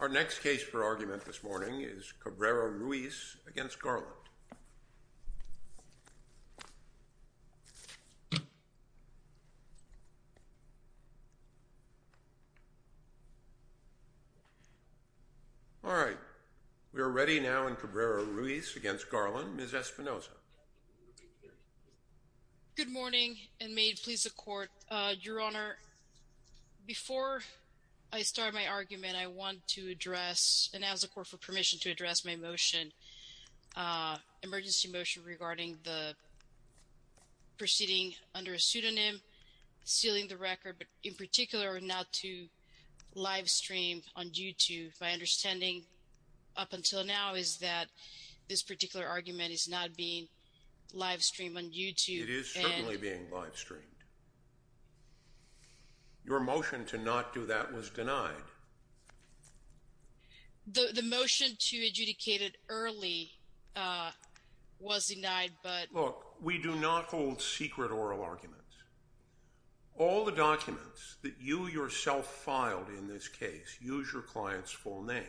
Our next case for argument this morning is Cabrera-Ruiz v. Merrick B. Garland. All right, we are ready now in Cabrera-Ruiz v. Merrick B. Garland. Ms. Espinosa. Good morning and may it please the Court. Your Honor, before I start my argument I want to address, and ask the Court for permission to address my motion, emergency motion regarding the proceeding under a pseudonym, sealing the record, but in particular not to live stream on YouTube. My understanding up until now is that this particular argument is not being live streamed on YouTube. It is certainly being live streamed. Your motion to not do that was denied. The motion to adjudicate it early was denied, but... Look, we do not hold secret oral arguments. All the documents that you yourself filed in this case, use your client's full name.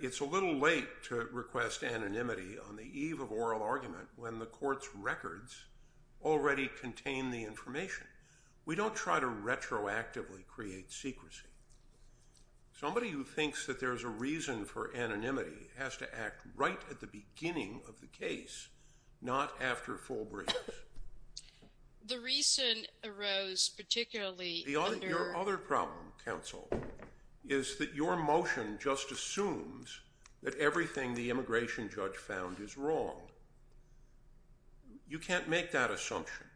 It's a little late to request anonymity on the eve of oral argument when the Court's records already contain the information. We don't try to retroactively create secrecy. Somebody who thinks that there's a reason for anonymity has to act right at the beginning of the case, not after full briefs. The reason arose particularly under... Your other problem, counsel, is that your motion just assumes that everything the immigration judge found is wrong. You can't make that assumption.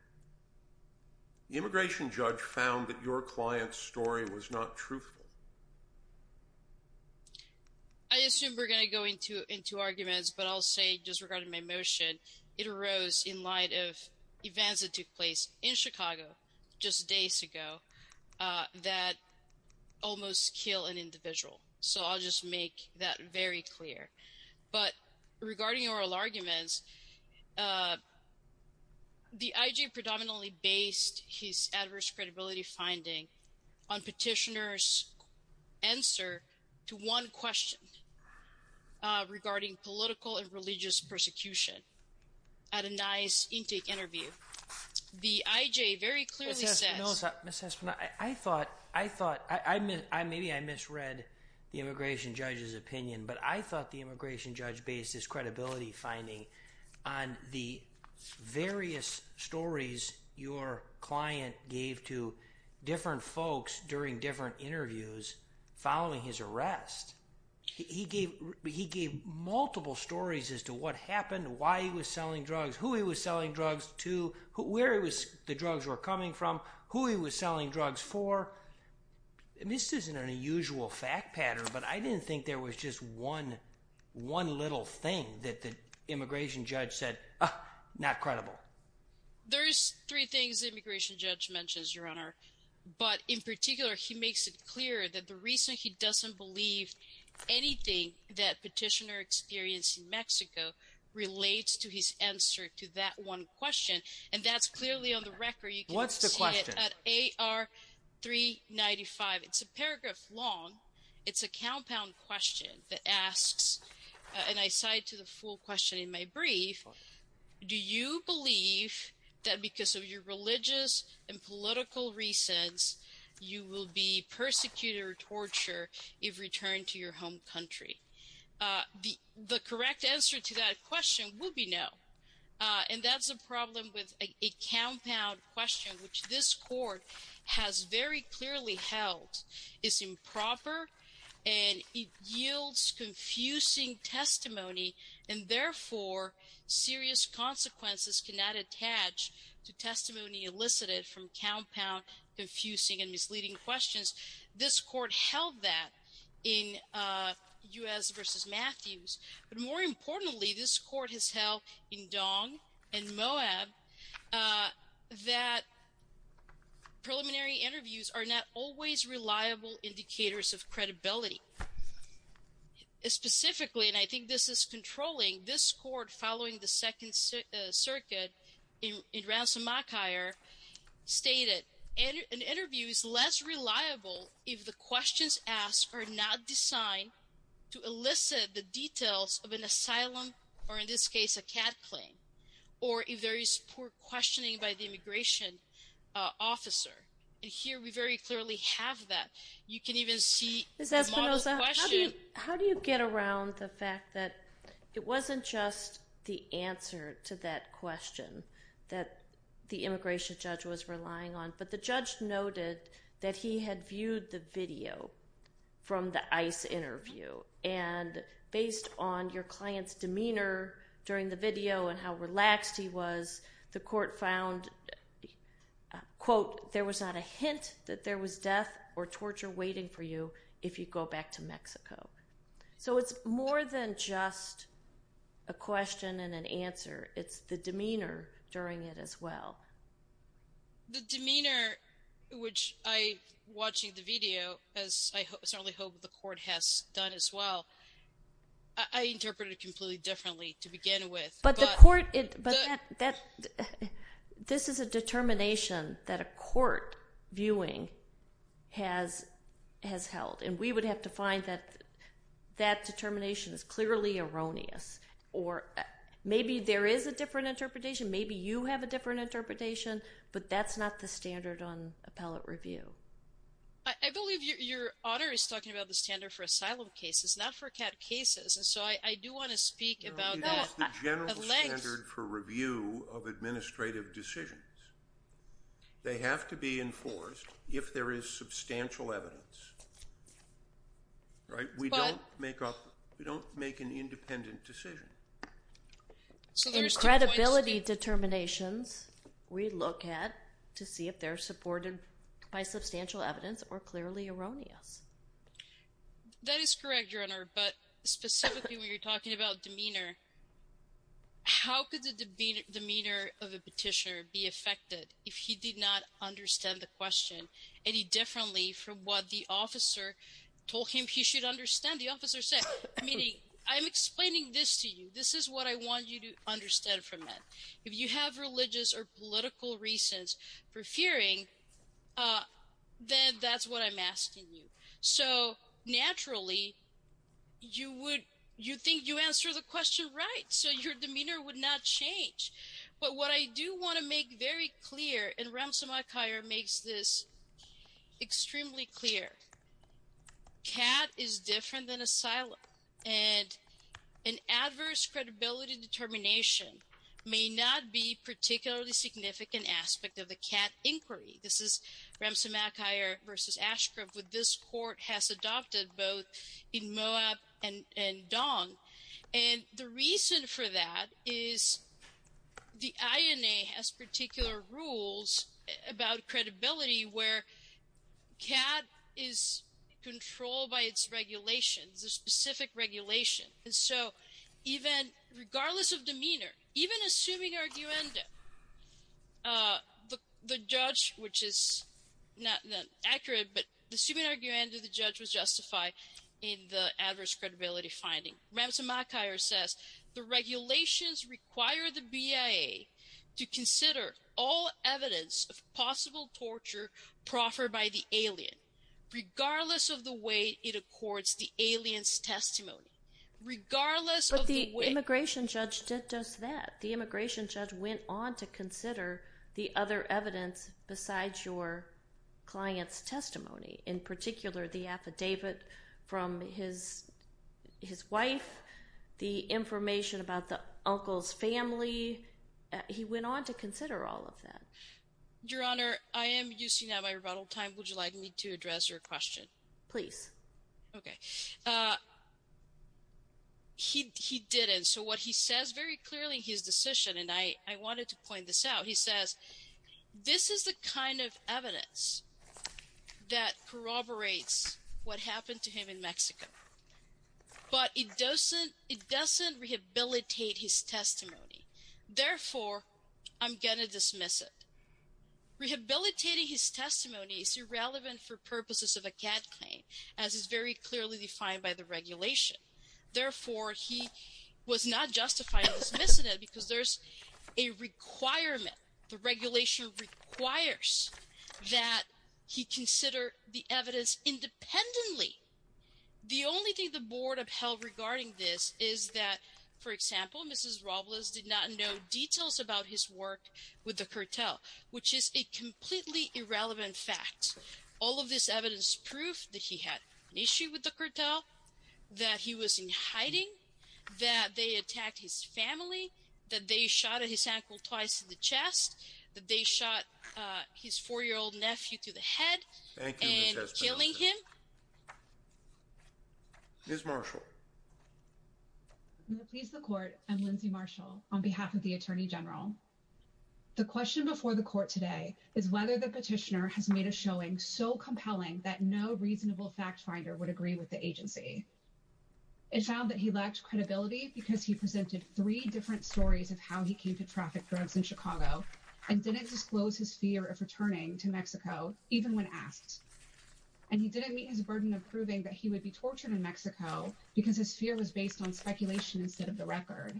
The immigration judge found that your client's story was not truthful. I assume we're going to go into arguments, but I'll say, just regarding my motion, it arose in light of events that took place in Chicago just days ago that almost kill an individual. So, I'll just make that very clear. But, regarding oral arguments, the I.J. predominantly based his adverse credibility finding on petitioner's answer to one question regarding political and religious persecution at a NICE intake interview. The I.J. very clearly says... Ms. Espinosa, I thought... Maybe I misread the immigration judge's opinion, but I thought the immigration judge based his credibility finding on the various stories your client gave to different folks during different interviews following his arrest. He gave multiple stories as to what happened, why he was selling drugs, who he was selling drugs to, where the drugs were coming from, who he was selling drugs for. This isn't an unusual fact pattern, but I didn't think there was just one little thing that the immigration judge said, ah, not credible. There's three things the immigration judge mentions, Your Honor. But, in particular, he makes it clear that the reason he doesn't believe anything that petitioner experienced in Mexico relates to his answer to that one question, and that's clearly on the record. What's the question? At AR 395, it's a paragraph long. It's a compound question that asks, and I cite to the full question in my brief, do you believe that because of your religious and political reasons, you will be persecuted or tortured if returned to your home country? The correct answer to that question would be no, and that's a problem with a compound question, which this court has very clearly held is improper, and it yields confusing testimony, and, therefore, serious consequences cannot attach to testimony elicited from compound, confusing, and misleading questions. This court held that in U.S. v. Matthews, but, more importantly, this court has held in Dong and Moab that preliminary interviews are not always reliable indicators of credibility. Specifically, and I think this is controlling, this court, following the Second Circuit in Ransomockhire, stated an interview is less reliable if the questions asked are not designed to elicit the details of an asylum, or, in this case, a CAD claim, or if there is poor questioning by the immigration officer, and here we very clearly have that. You can even see the model question. How do you get around the fact that it wasn't just the answer to that question that the immigration judge was relying on, but the judge noted that he had viewed the video from the ICE interview, and based on your client's demeanor during the video and how relaxed he was, the court found, quote, there was not a hint that there was death or torture waiting for you if you go back to Mexico. So it's more than just a question and an answer. It's the demeanor during it as well. The demeanor, which I, watching the video, as I certainly hope the court has done as well, I interpreted it completely differently to begin with. But the court, this is a determination that a court viewing has held, and we would have to find that that determination is clearly erroneous, or maybe there is a different interpretation, maybe you have a different interpretation, but that's not the standard on appellate review. I believe your honor is talking about the standard for asylum cases, not for CAD cases, and so I do want to speak about that. It's the general standard for review of administrative decisions. They have to be enforced if there is substantial evidence. Right? We don't make up, we don't make an independent decision. In credibility determinations, we look at to see if they're supported by substantial evidence or clearly erroneous. That is correct, your honor, but specifically when you're talking about demeanor, how could the demeanor of a petitioner be affected if he did not understand the question any differently from what the officer told him he should understand? The officer said, I'm explaining this to you, this is what I want you to understand from it. If you have religious or political reasons for fearing, then that's what I'm asking you. So, naturally, you think you answer the question right, so your demeanor would not change. But what I do want to make very clear, and Remsen-McIntyre makes this extremely clear, CAD is different than asylum, and an adverse credibility determination may not be a particularly significant aspect of the CAD inquiry. This is Remsen-McIntyre v. Ashcroft, which this court has adopted both in Moab and Dong. And the reason for that is the INA has particular rules about credibility where CAD is controlled by its regulations, a specific regulation. And so, regardless of demeanor, even assuming arguendo, the judge, which is not accurate, but assuming arguendo, the judge was justified in the adverse credibility finding. Remsen-McIntyre says, the regulations require the BIA to consider all evidence of possible torture proffered by the alien, regardless of the way it accords the alien's testimony. But the immigration judge did just that. The immigration judge went on to consider the other evidence besides your client's testimony, in particular, the affidavit from his wife, the information about the uncle's family. He went on to consider all of that. Your Honor, I am using up my rebuttal time. Would you like me to address your question? Please. Okay. He didn't. So what he says very clearly in his decision, and I wanted to point this out, he says, this is the kind of evidence that corroborates what happened to him in Mexico. But it doesn't rehabilitate his testimony. Therefore, I'm going to dismiss it. Rehabilitating his testimony is irrelevant for purposes of a CAD claim, as is very clearly defined by the regulation. Therefore, he was not justifying dismissing it because there's a requirement. The regulation requires that he consider the evidence independently. The only thing the board upheld regarding this is that, for example, Mrs. Robles did not know details about his work with the cartel, which is a completely irrelevant fact. All of this evidence is proof that he had an issue with the cartel, that he was in hiding, that they attacked his family, that they shot at his ankle twice in the chest, that they shot his four-year-old nephew through the head and killing him. Ms. Marshall. I'm going to please the court. I'm Lindsay Marshall on behalf of the Attorney General. The question before the court today is whether the petitioner has made a showing so compelling that no reasonable fact finder would agree with the agency. It found that he lacked credibility because he presented three different stories of how he came to traffic drugs in Chicago and didn't disclose his fear of returning to Mexico, even when asked. And he didn't meet his burden of proving that he would be tortured in Mexico because his fear was based on speculation instead of the record.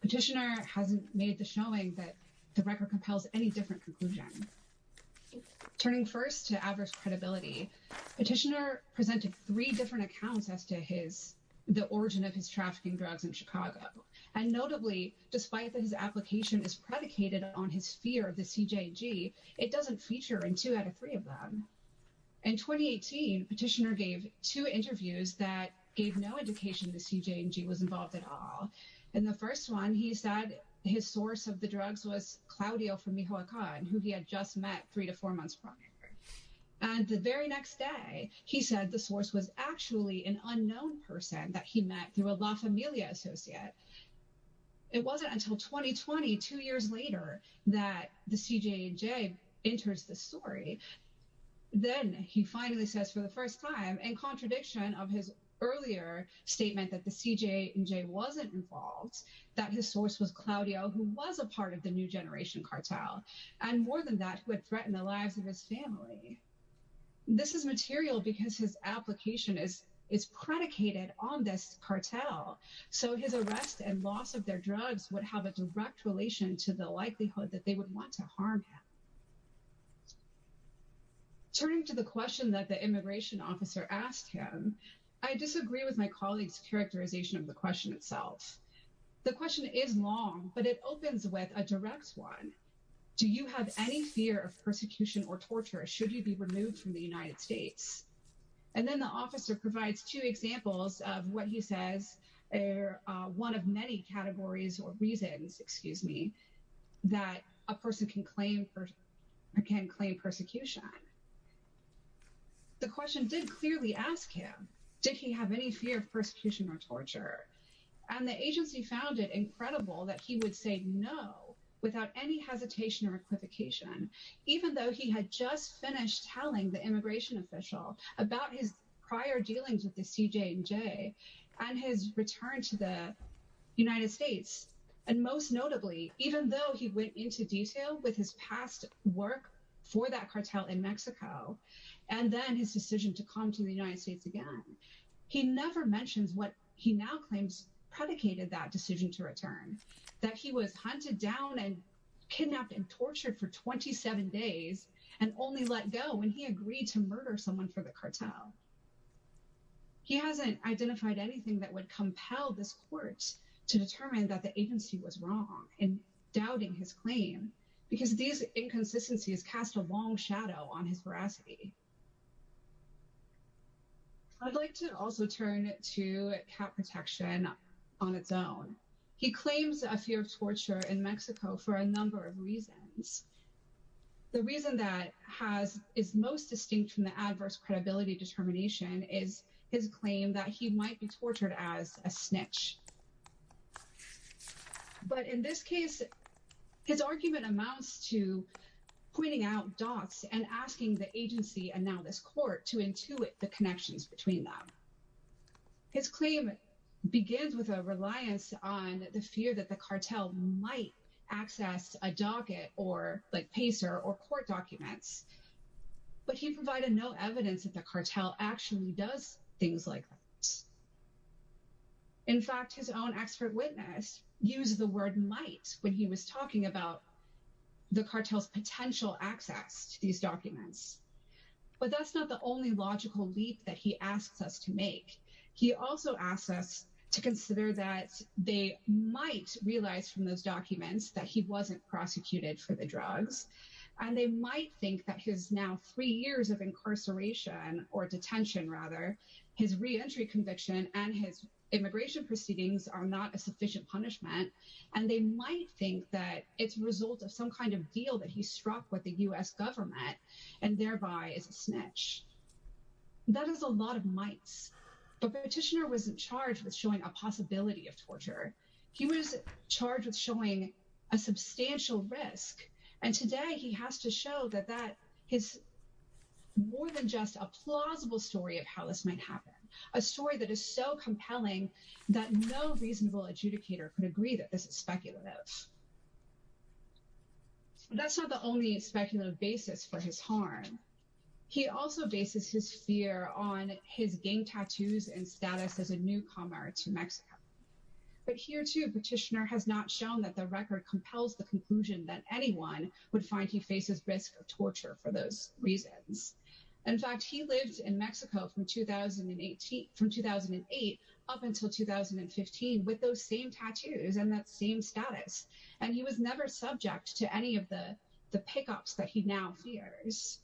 Petitioner hasn't made the showing that the record compels any different conclusion. Turning first to adverse credibility, petitioner presented three different accounts as to the origin of his trafficking drugs in Chicago. And notably, despite that his application is predicated on his fear of the CJ&G, it doesn't feature in two out of three of them. In 2018, petitioner gave two interviews that gave no indication the CJ&G was involved at all. In the first one, he said his source of the drugs was Claudio Fumijo Akan, who he had just met three to four months prior. And the very next day, he said the source was actually an unknown person that he met through a La Familia associate. It wasn't until 2020, two years later, that the CJ&G enters the story. Then he finally says for the first time, in contradiction of his earlier statement that the CJ&G wasn't involved, that his source was Claudio, who was a part of the New Generation cartel, and more than that, who had threatened the lives of his family. This is material because his application is predicated on this cartel. So his arrest and loss of their drugs would have a direct relation to the likelihood that they would want to harm him. Turning to the question that the immigration officer asked him, I disagree with my colleague's characterization of the question itself. The question is long, but it opens with a direct one. Do you have any fear of persecution or torture should you be removed from the United States? And then the officer provides two examples of what he says are one of many categories or reasons, excuse me, that a person can claim persecution. The question did clearly ask him, did he have any fear of persecution or torture? And the agency found it incredible that he would say no without any hesitation or equivocation, even though he had just finished telling the immigration official about his prior dealings with the CJ&G and his return to the United States. And most notably, even though he went into detail with his past work for that cartel in Mexico, and then his decision to come to the United States again, he never mentions what he now claims predicated that decision to return, that he was hunted down and kidnapped and tortured for 27 days, and only let go when he agreed to murder someone for the cartel. He hasn't identified anything that would compel this court to determine that the agency was wrong in doubting his claim, because these inconsistencies cast a long shadow on his veracity. I'd like to also turn to cap protection on its own. He claims a fear of torture in Mexico for a number of reasons. The reason that is most distinct from the adverse credibility determination is his claim that he might be tortured as a snitch. But in this case, his argument amounts to pointing out dots and asking the agency, and now this court, to intuit the connections between them. His claim begins with a reliance on the fear that the cartel might access a docket, like PACER, or court documents. But he provided no evidence that the cartel actually does things like that. In fact, his own expert witness used the word might when he was talking about the cartel's potential access to these documents. But that's not the only logical leap that he asks us to make. He also asks us to consider that they might realize from those documents that he wasn't prosecuted for the drugs, and they might think that his now three years of incarceration, or detention rather, his reentry conviction and his immigration proceedings are not a sufficient punishment, and they might think that it's a result of some kind of deal that he struck with the U.S. government, and thereby is a snitch. That is a lot of mights. But the petitioner wasn't charged with showing a possibility of torture. He was charged with showing a substantial risk, and today he has to show that that is more than just a plausible story of how this might happen, a story that is so compelling that no reasonable adjudicator could agree that this is speculative. That's not the only speculative basis for his harm. He also bases his fear on his gang tattoos and status as a newcomer to Mexico. But here too, petitioner has not shown that the record compels the conclusion that anyone would find he faces risk of torture for those reasons. In fact, he lived in Mexico from 2008 up until 2015 with those same tattoos and that same status. And he was never subject to any of the pickups that he now fears.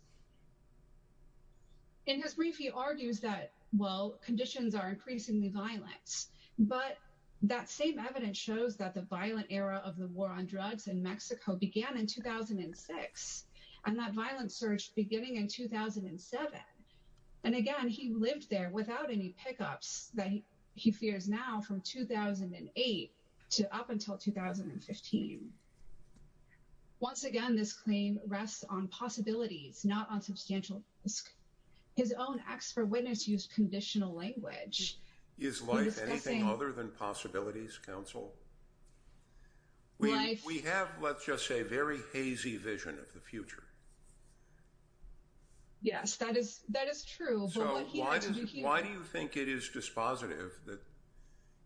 In his brief, he argues that, well, conditions are increasingly violent, but that same evidence shows that the violent era of the war on drugs in Mexico began in 2006, and that violent surge beginning in 2007. And again, he lived there without any pickups that he fears now from 2008 to up until 2015. Once again, this claim rests on possibilities, not on substantial risk. His own acts for witness use conditional language. Is life anything other than possibilities, counsel? We have, let's just say, very hazy vision of the future. Yes, that is true. Why do you think it is dispositive that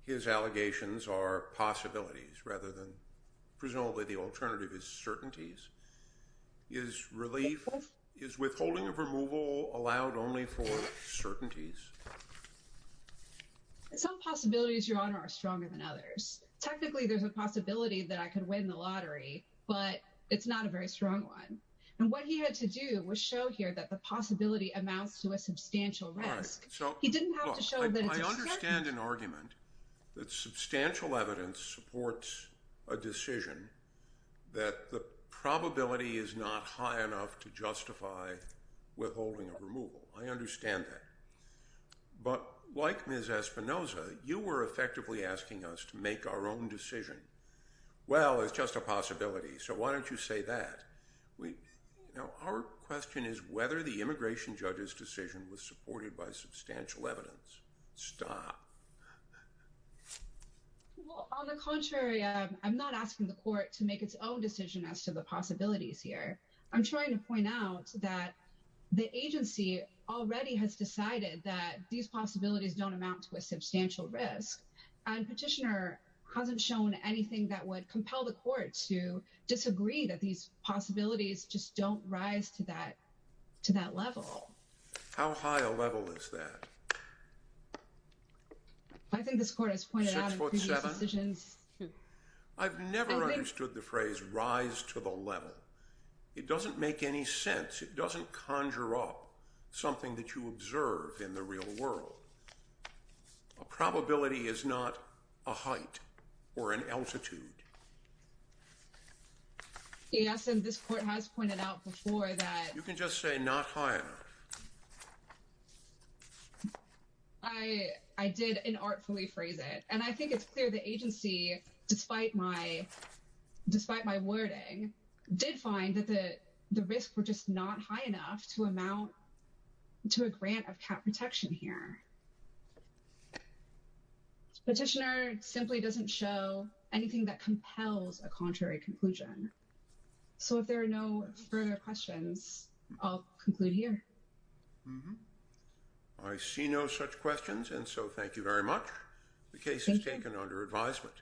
his allegations are possibilities rather than presumably the alternative is certainties? Is relief, is withholding of removal allowed only for certainties? Some possibilities, Your Honor, are stronger than others. Technically, there's a possibility that I could win the lottery, but it's not a very strong one. And what he had to do was show here that the possibility amounts to a substantial risk. He didn't have to show that it's a certainty. I understand an argument that substantial evidence supports a decision that the probability is not high enough to justify withholding of removal. I understand that. But like Ms. Espinoza, you were effectively asking us to make our own decision. Well, it's just a possibility, so why don't you say that? Our question is whether the immigration judge's decision was supported by substantial evidence. Stop. Well, on the contrary, I'm not asking the court to make its own decision as to the possibilities here. I'm trying to point out that the agency already has decided that these possibilities don't amount to a substantial risk. And Petitioner hasn't shown anything that would compel the court to disagree that these possibilities just don't rise to that level. How high a level is that? I think this court has pointed out in previous decisions. I've never understood the phrase rise to the level. It doesn't make any sense. It doesn't conjure up something that you observe in the real world. A probability is not a height or an altitude. Yes, and this court has pointed out before that. You can just say not high enough. I did inartfully phrase it, and I think it's clear the agency, despite my wording, did find that the risks were just not high enough to amount to a grant of cap protection here. Petitioner simply doesn't show anything that compels a contrary conclusion. So if there are no further questions, I'll conclude here. I see no such questions, and so thank you very much. The case is taken under advisement.